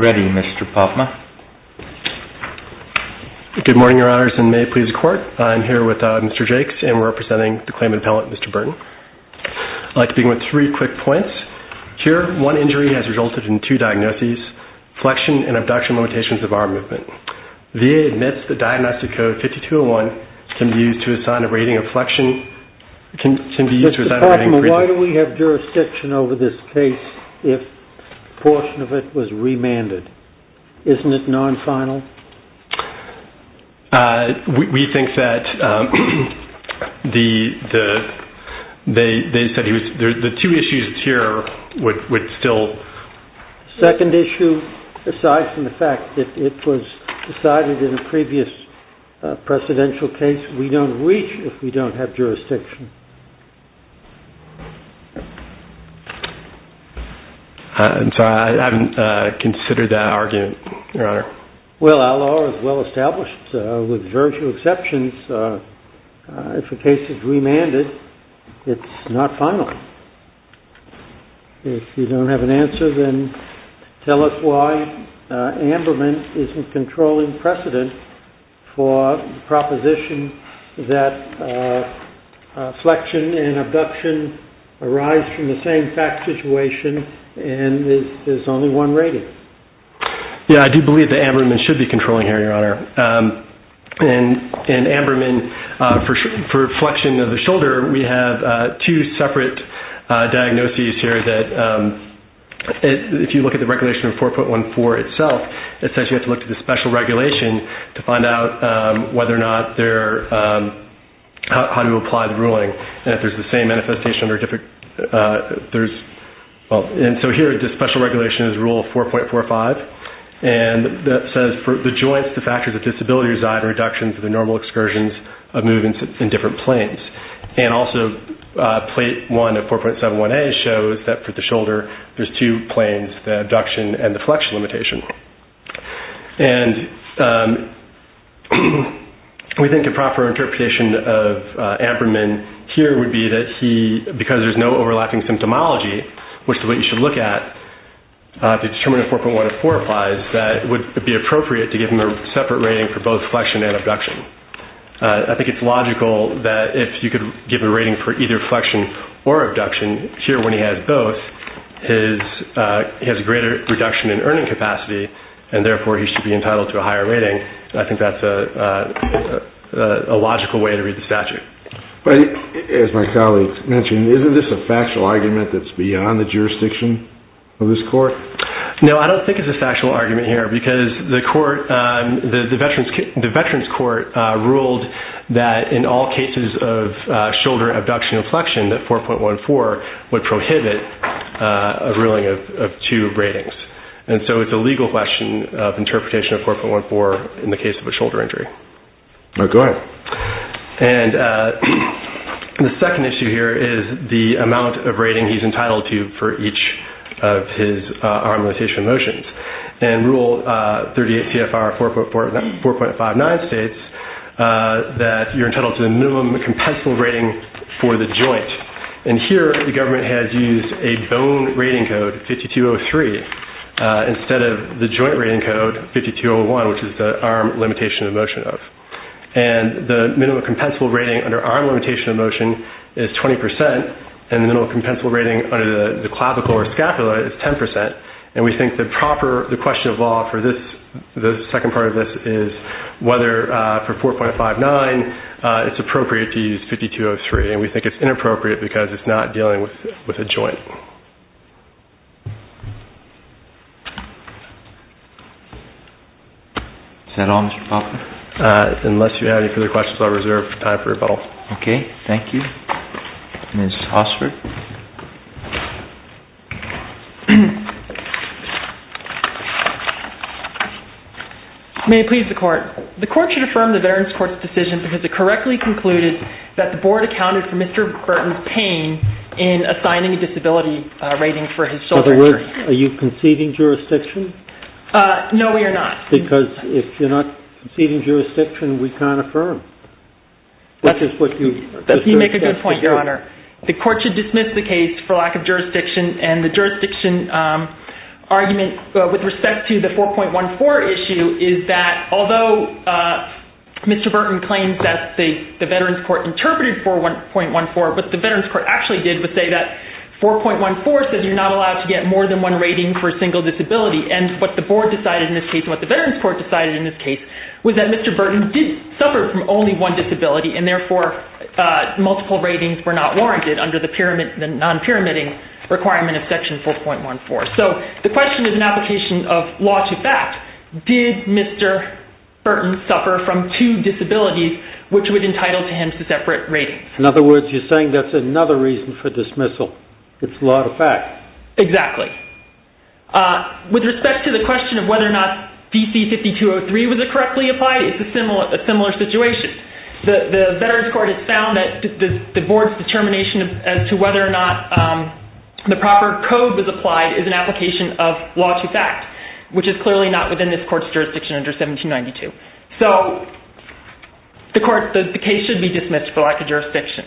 Ready Mr. Pafma. Good morning your honors and may it please the court. I'm here with Mr. Jakes and we're representing the claimant appellate Mr. Burton. I'd like to begin with three quick points. Here one injury has resulted in two diagnoses, flexion and abduction limitations of arm movement. VA admits the diagnostic code 5201 can be used to assign a rating of flexion. Mr. Pafma, why do we have jurisdiction over this case if a portion of it was remanded? Isn't it non-final? We think that the two issues here would still... Second issue, aside from the fact that it was decided in a previous presidential case, we don't reach if we don't have jurisdiction. I'm sorry, I haven't considered that argument, your honor. Well, our law is well established with very few exceptions. If a case is remanded, it's not final. If you don't have an answer, then tell us why Amberman isn't controlling precedent for proposition that flexion and abduction arise from the same fact situation and there's only one rating. Yeah, I do believe that Amberman should be controlling here, your honor. In Amberman, for flexion of the shoulder, we have two separate diagnoses here that if you look at the regulation of 4.14 itself, it says you have to look at the special regulation to find out how to apply the ruling. Here, the special regulation is rule 4.45 and that says for the joints, the factors of disability reside in reduction for the normal excursions of movements in different planes. And also, plate 1 of 4.71a shows that for the shoulder, there's two planes, the abduction and the flexion limitation. And we think the proper interpretation of Amberman here would be that he, because there's no overlapping symptomology, which is what you should look at to determine if 4.14 applies, that it would be appropriate to give him a separate rating for both flexion and abduction. I think it's logical that if you could give a rating for either flexion or abduction, here when he has both, he has a greater reduction in earning capacity and therefore, he should be entitled to a higher rating. I think that's a logical way to read the statute. As my colleague mentioned, isn't this a factual argument that's beyond the jurisdiction of this court? No, I don't think it's a factual argument here because the veterans court ruled that in all cases of shoulder abduction and flexion, that 4.14 would prohibit a ruling of two ratings. And so, it's a legal question of interpretation of 4.14 in the case of a shoulder injury. Okay. And the second issue here is the amount of rating he's entitled to for each of his arm limitation motions. And Rule 38 CFR 4.59 states that you're entitled to the minimum compensable rating for the joint. And here, the government has used a bone rating code, 5203, instead of the joint rating code, 5201, which is the arm limitation of motion of. And the minimum compensable rating under arm limitation of motion is 20% and the minimum compensable rating under the clavicle or scapula is 10%. And we think the question of law for the second part of this is whether for 4.59, it's appropriate to use 5203. And we think it's inappropriate because it's not dealing with a reserve type rebuttal. Okay. Thank you. Ms. Osford. May it please the Court. The Court should affirm the Veterans Court's decision because it correctly concluded that the Board accounted for Mr. Burton's pain in assigning a disability rating for his shoulder injury. In other words, are you conceding jurisdiction? No, we are not. Because if you're not conceding jurisdiction, we can't affirm. You make a good point, Your Honor. The Court should dismiss the case for lack of jurisdiction. And the jurisdiction argument with respect to the 4.14 issue is that although Mr. Burton claims that the Veterans Court interpreted 4.14, what the Veterans Court actually did was say that 4.14 says you're not allowed to get more than one rating for a single disability. And what the Veterans Court decided in this case was that Mr. Burton did suffer from only one disability, and therefore multiple ratings were not warranted under the non-pyramiding requirement of Section 4.14. So the question is an application of law to fact. Did Mr. Burton suffer from two disabilities which would entitle him to separate ratings? In other words, you're saying that's another reason for dismissal. It's law to fact. Exactly. With respect to the question of whether or not DC-5203 was correctly applied, it's a similar situation. The Veterans Court has found that the Board's determination as to whether or not the proper code was applied is an application of law to fact, which is clearly not within this Court's jurisdiction under 1792. So the case should be dismissed for lack of jurisdiction.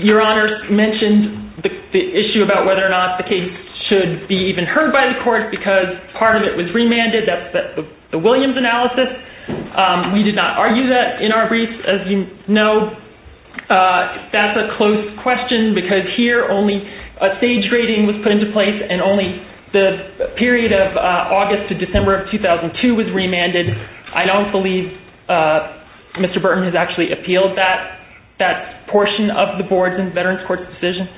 Your Honor mentioned the issue about whether or not the case should be even heard by the Court because part of it was remanded. That's the Williams analysis. We did not argue that in our brief. As you know, that's a close question because here only a stage rating was put into place and only the period of August to December of 2002 was remanded. I don't believe Mr. Burton has actually appealed that portion of the Board's and Veterans Court's decision,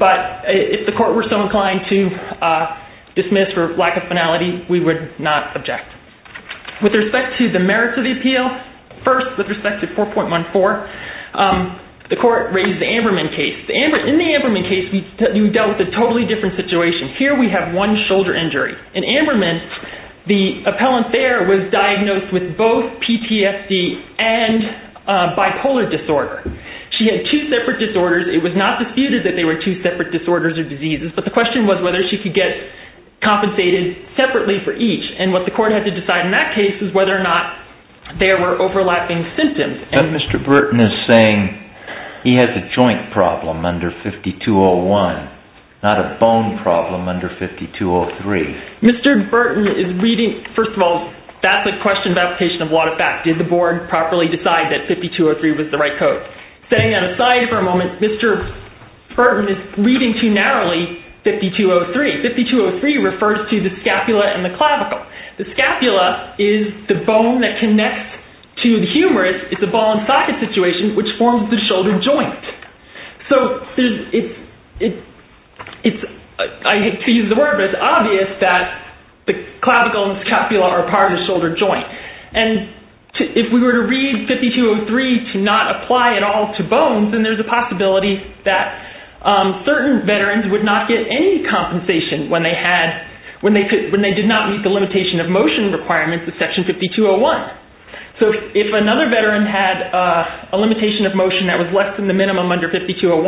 but if the Court were so inclined to dismiss for lack of finality, we would not object. With respect to the merits of the appeal, first with respect to 4.14, the Court raised the Amberman case. In the Amberman case, we dealt with a totally different situation. Here we have one shoulder injury. In Amberman, the appellant there was diagnosed with both PTSD and bipolar disorder. She had two separate disorders. It was not disputed that they were two separate disorders or diseases, but the question was whether she could get compensated separately for each, and what the Court had to decide in that case was whether or not there were overlapping symptoms. But Mr. Burton is saying he has a joint problem under 5201, not a bone problem under 5203. Mr. Burton is reading, first of all, that's a question of application of a lot of facts. Did the Board properly decide that 5203 was the right code? Setting that aside for a moment, Mr. Burton is reading too narrowly 5203. 5203 refers to the scapula and the clavicle. The scapula is the bone that connects to the humerus. It's a ball and socket situation which forms the clavicle and scapula are part of the shoulder joint. If we were to read 5203 to not apply at all to bones, then there's a possibility that certain veterans would not get any compensation when they did not meet the limitation of motion requirements of Section 5201. If another veteran had a limitation of motion that was less than the minimum under 5201,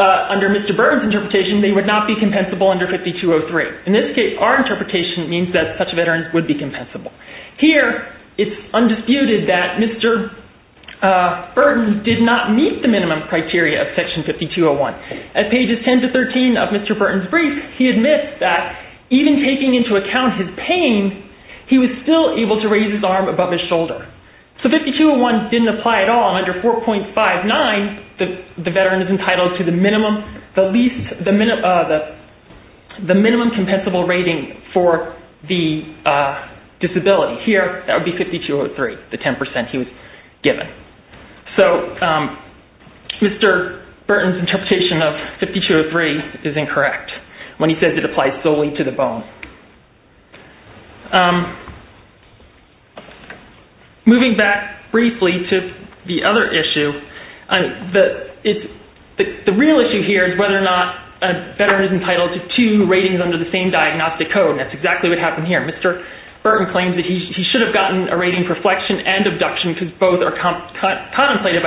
under Mr. Burton's interpretation, they would not be compensable under 5203. In this case, our interpretation means that such a veteran would be compensable. Here, it's undisputed that Mr. Burton did not meet the minimum criteria of Section 5201. At pages 10 to 13 of Mr. Burton's brief, he admits that even taking into account his pain, he was still able to raise his arm above his shoulder. So 5201 didn't apply at all. Under 4.59, the veteran is entitled to the minimum compensable rating for the disability. Here, that would be 5203, the 10% he was given. So Mr. Burton's interpretation of 5203 is incorrect when he says it applies solely to the bone. Moving back briefly to the other issue, the real issue here is whether or not a veteran is entitled to two ratings under the same diagnostic code. That's exactly what happened here. Mr. Burton claims that he should have gotten a rating for flexion and abduction because both are 9-2004. The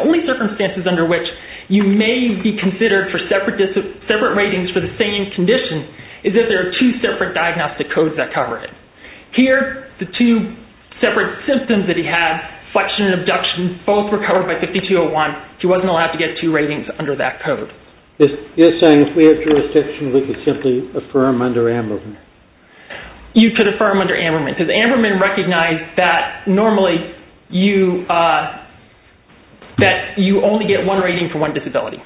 only circumstances under which you may be considered for separate ratings for the same condition is if there are two separate diagnostic codes that cover it. Here, the two separate symptoms that he had, flexion and abduction, both were covered by 5201. He wasn't allowed to get two ratings under that code. You're saying if we have jurisdiction, we could simply affirm under Amberman? You could affirm under Amberman. Amberman recognized that normally you only get one rating for one disability.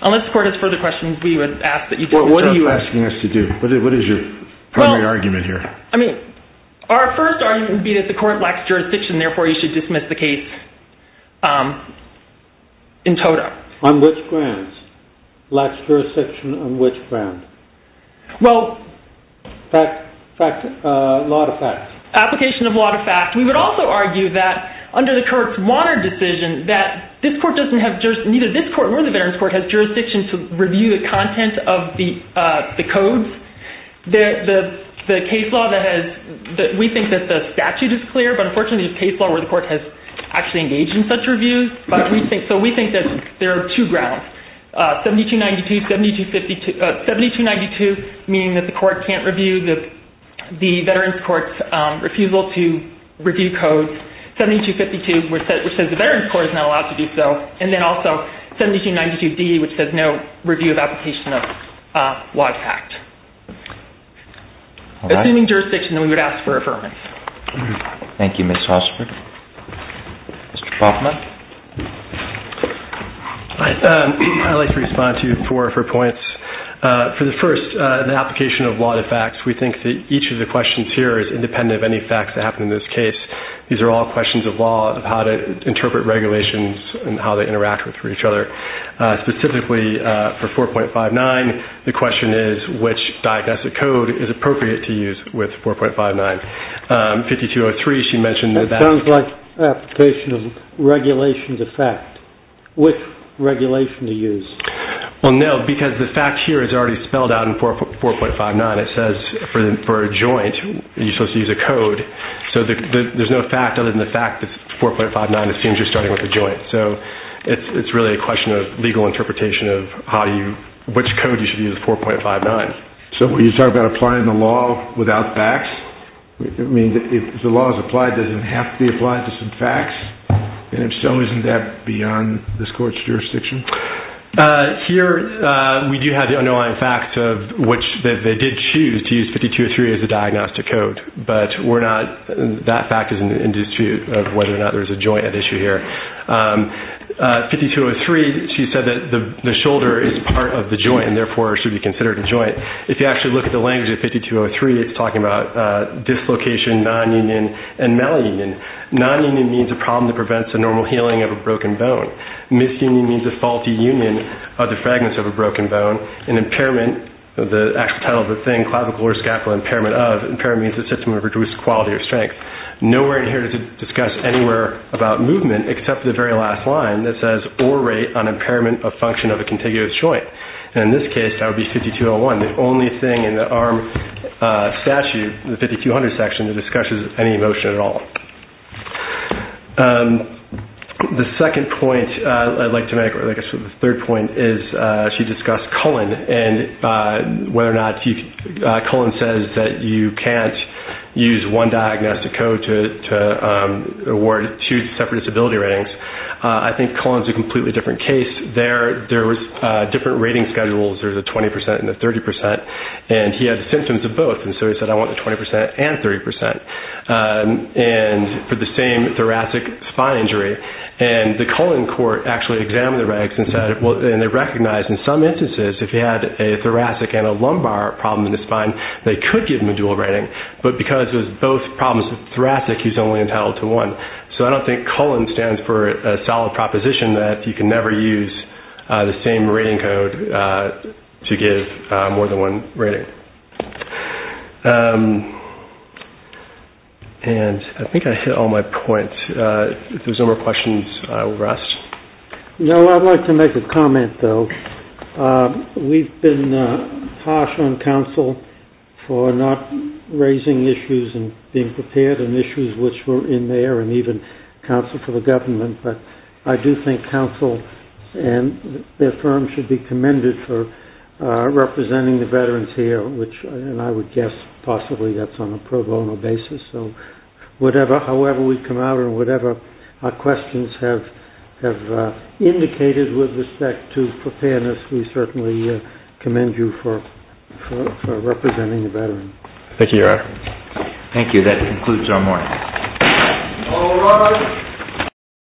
Unless the court has further questions, we would ask that you do. What are you asking us to do? What is your primary argument here? I mean, our first argument would be that the court lacks jurisdiction, therefore you should dismiss the case in total. On which grounds? Lacks jurisdiction on which grounds? Well, application of law to fact. We would also argue that under the current Warner decision that neither this court nor the Veterans Court has jurisdiction to review the content of the codes. We think that the statute is clear, but unfortunately the case law where the meaning that the court can't review the Veterans Court's refusal to review codes, 7252, which says the Veterans Court is not allowed to do so, and then also 7292D, which says no review of application of law to fact. Assuming jurisdiction, then we would ask for affirmance. Thank you, Ms. Hosford. Mr. Poffman? Hi. I'd like to respond to four of her points. For the first, the application of law to facts. We think that each of the questions here is independent of any facts that happen in this case. These are all questions of law, of how to interpret regulations and how they interact with each other. Specifically for 4.59, the question is which diagnostic code is appropriate to use with 4.59. 5203, she mentioned that- That sounds like application of regulation to fact. Which regulation to use? No, because the fact here is already spelled out in 4.59. It says for a joint, you're supposed to use a code. There's no fact other than the fact that 4.59 assumes you're starting with a joint. It's really a question of legal interpretation of which code you should use with 4.59. You're talking about applying the law without facts? If the law is applied, doesn't it have to be applied to some facts? If so, isn't that beyond this court's jurisdiction? Here, we do have the underlying fact of which they did choose to use 5203 as a diagnostic code, but we're not- That fact is an issue of whether or not there's a joint at issue here. 5203, she said that the shoulder is part of the joint and therefore should be considered a joint. If you actually look at the language of 5203, it's talking about dislocation, nonunion, and malunion. Nonunion means a problem that prevents the normal healing of a broken bone. Misunion means a faulty union of the fragments of a broken bone. An impairment, the actual title of the thing, clavicle or scapula impairment of, impairment means a quality of strength. Nowhere in here does it discuss anywhere about movement except the very last line that says, or rate on impairment of function of a contiguous joint. In this case, that would be 5201. The only thing in the arm statute, the 5200 section, that discusses any motion at all. The second point I'd like to make, or I guess the third point, is she discussed Cullen, and whether or not Cullen says that you can't use one diagnostic code to award two separate disability ratings. I think Cullen's a completely different case. There was different rating schedules. There's a 20% and a 30%, and he had symptoms of both. He said, I want the 20% and 30% for the same thoracic spine injury. The Cullen court actually examined the regs and said, and they recognized in some instances, if he had a thoracic and a lumbar problem in the spine, they could give him a dual rating, but because it was both problems with the thoracic, he's only entitled to one. So I don't think Cullen stands for a solid proposition that you can never use the same rating code to give more than one rating. I think I hit all my points. If there's no more questions, we'll rest. No, I'd like to make a comment, though. We've been harsh on counsel for not raising issues and being prepared, and issues which were in there, and even counsel for the government, but I do think counsel and their firm should be commended for representing the veterans here, which I would guess possibly that's on a pro bono basis. So however we come out, whatever our questions have indicated with respect to preparedness, we certainly commend you for representing the veterans. Thank you, Your Honor. Thank you. That concludes our morning.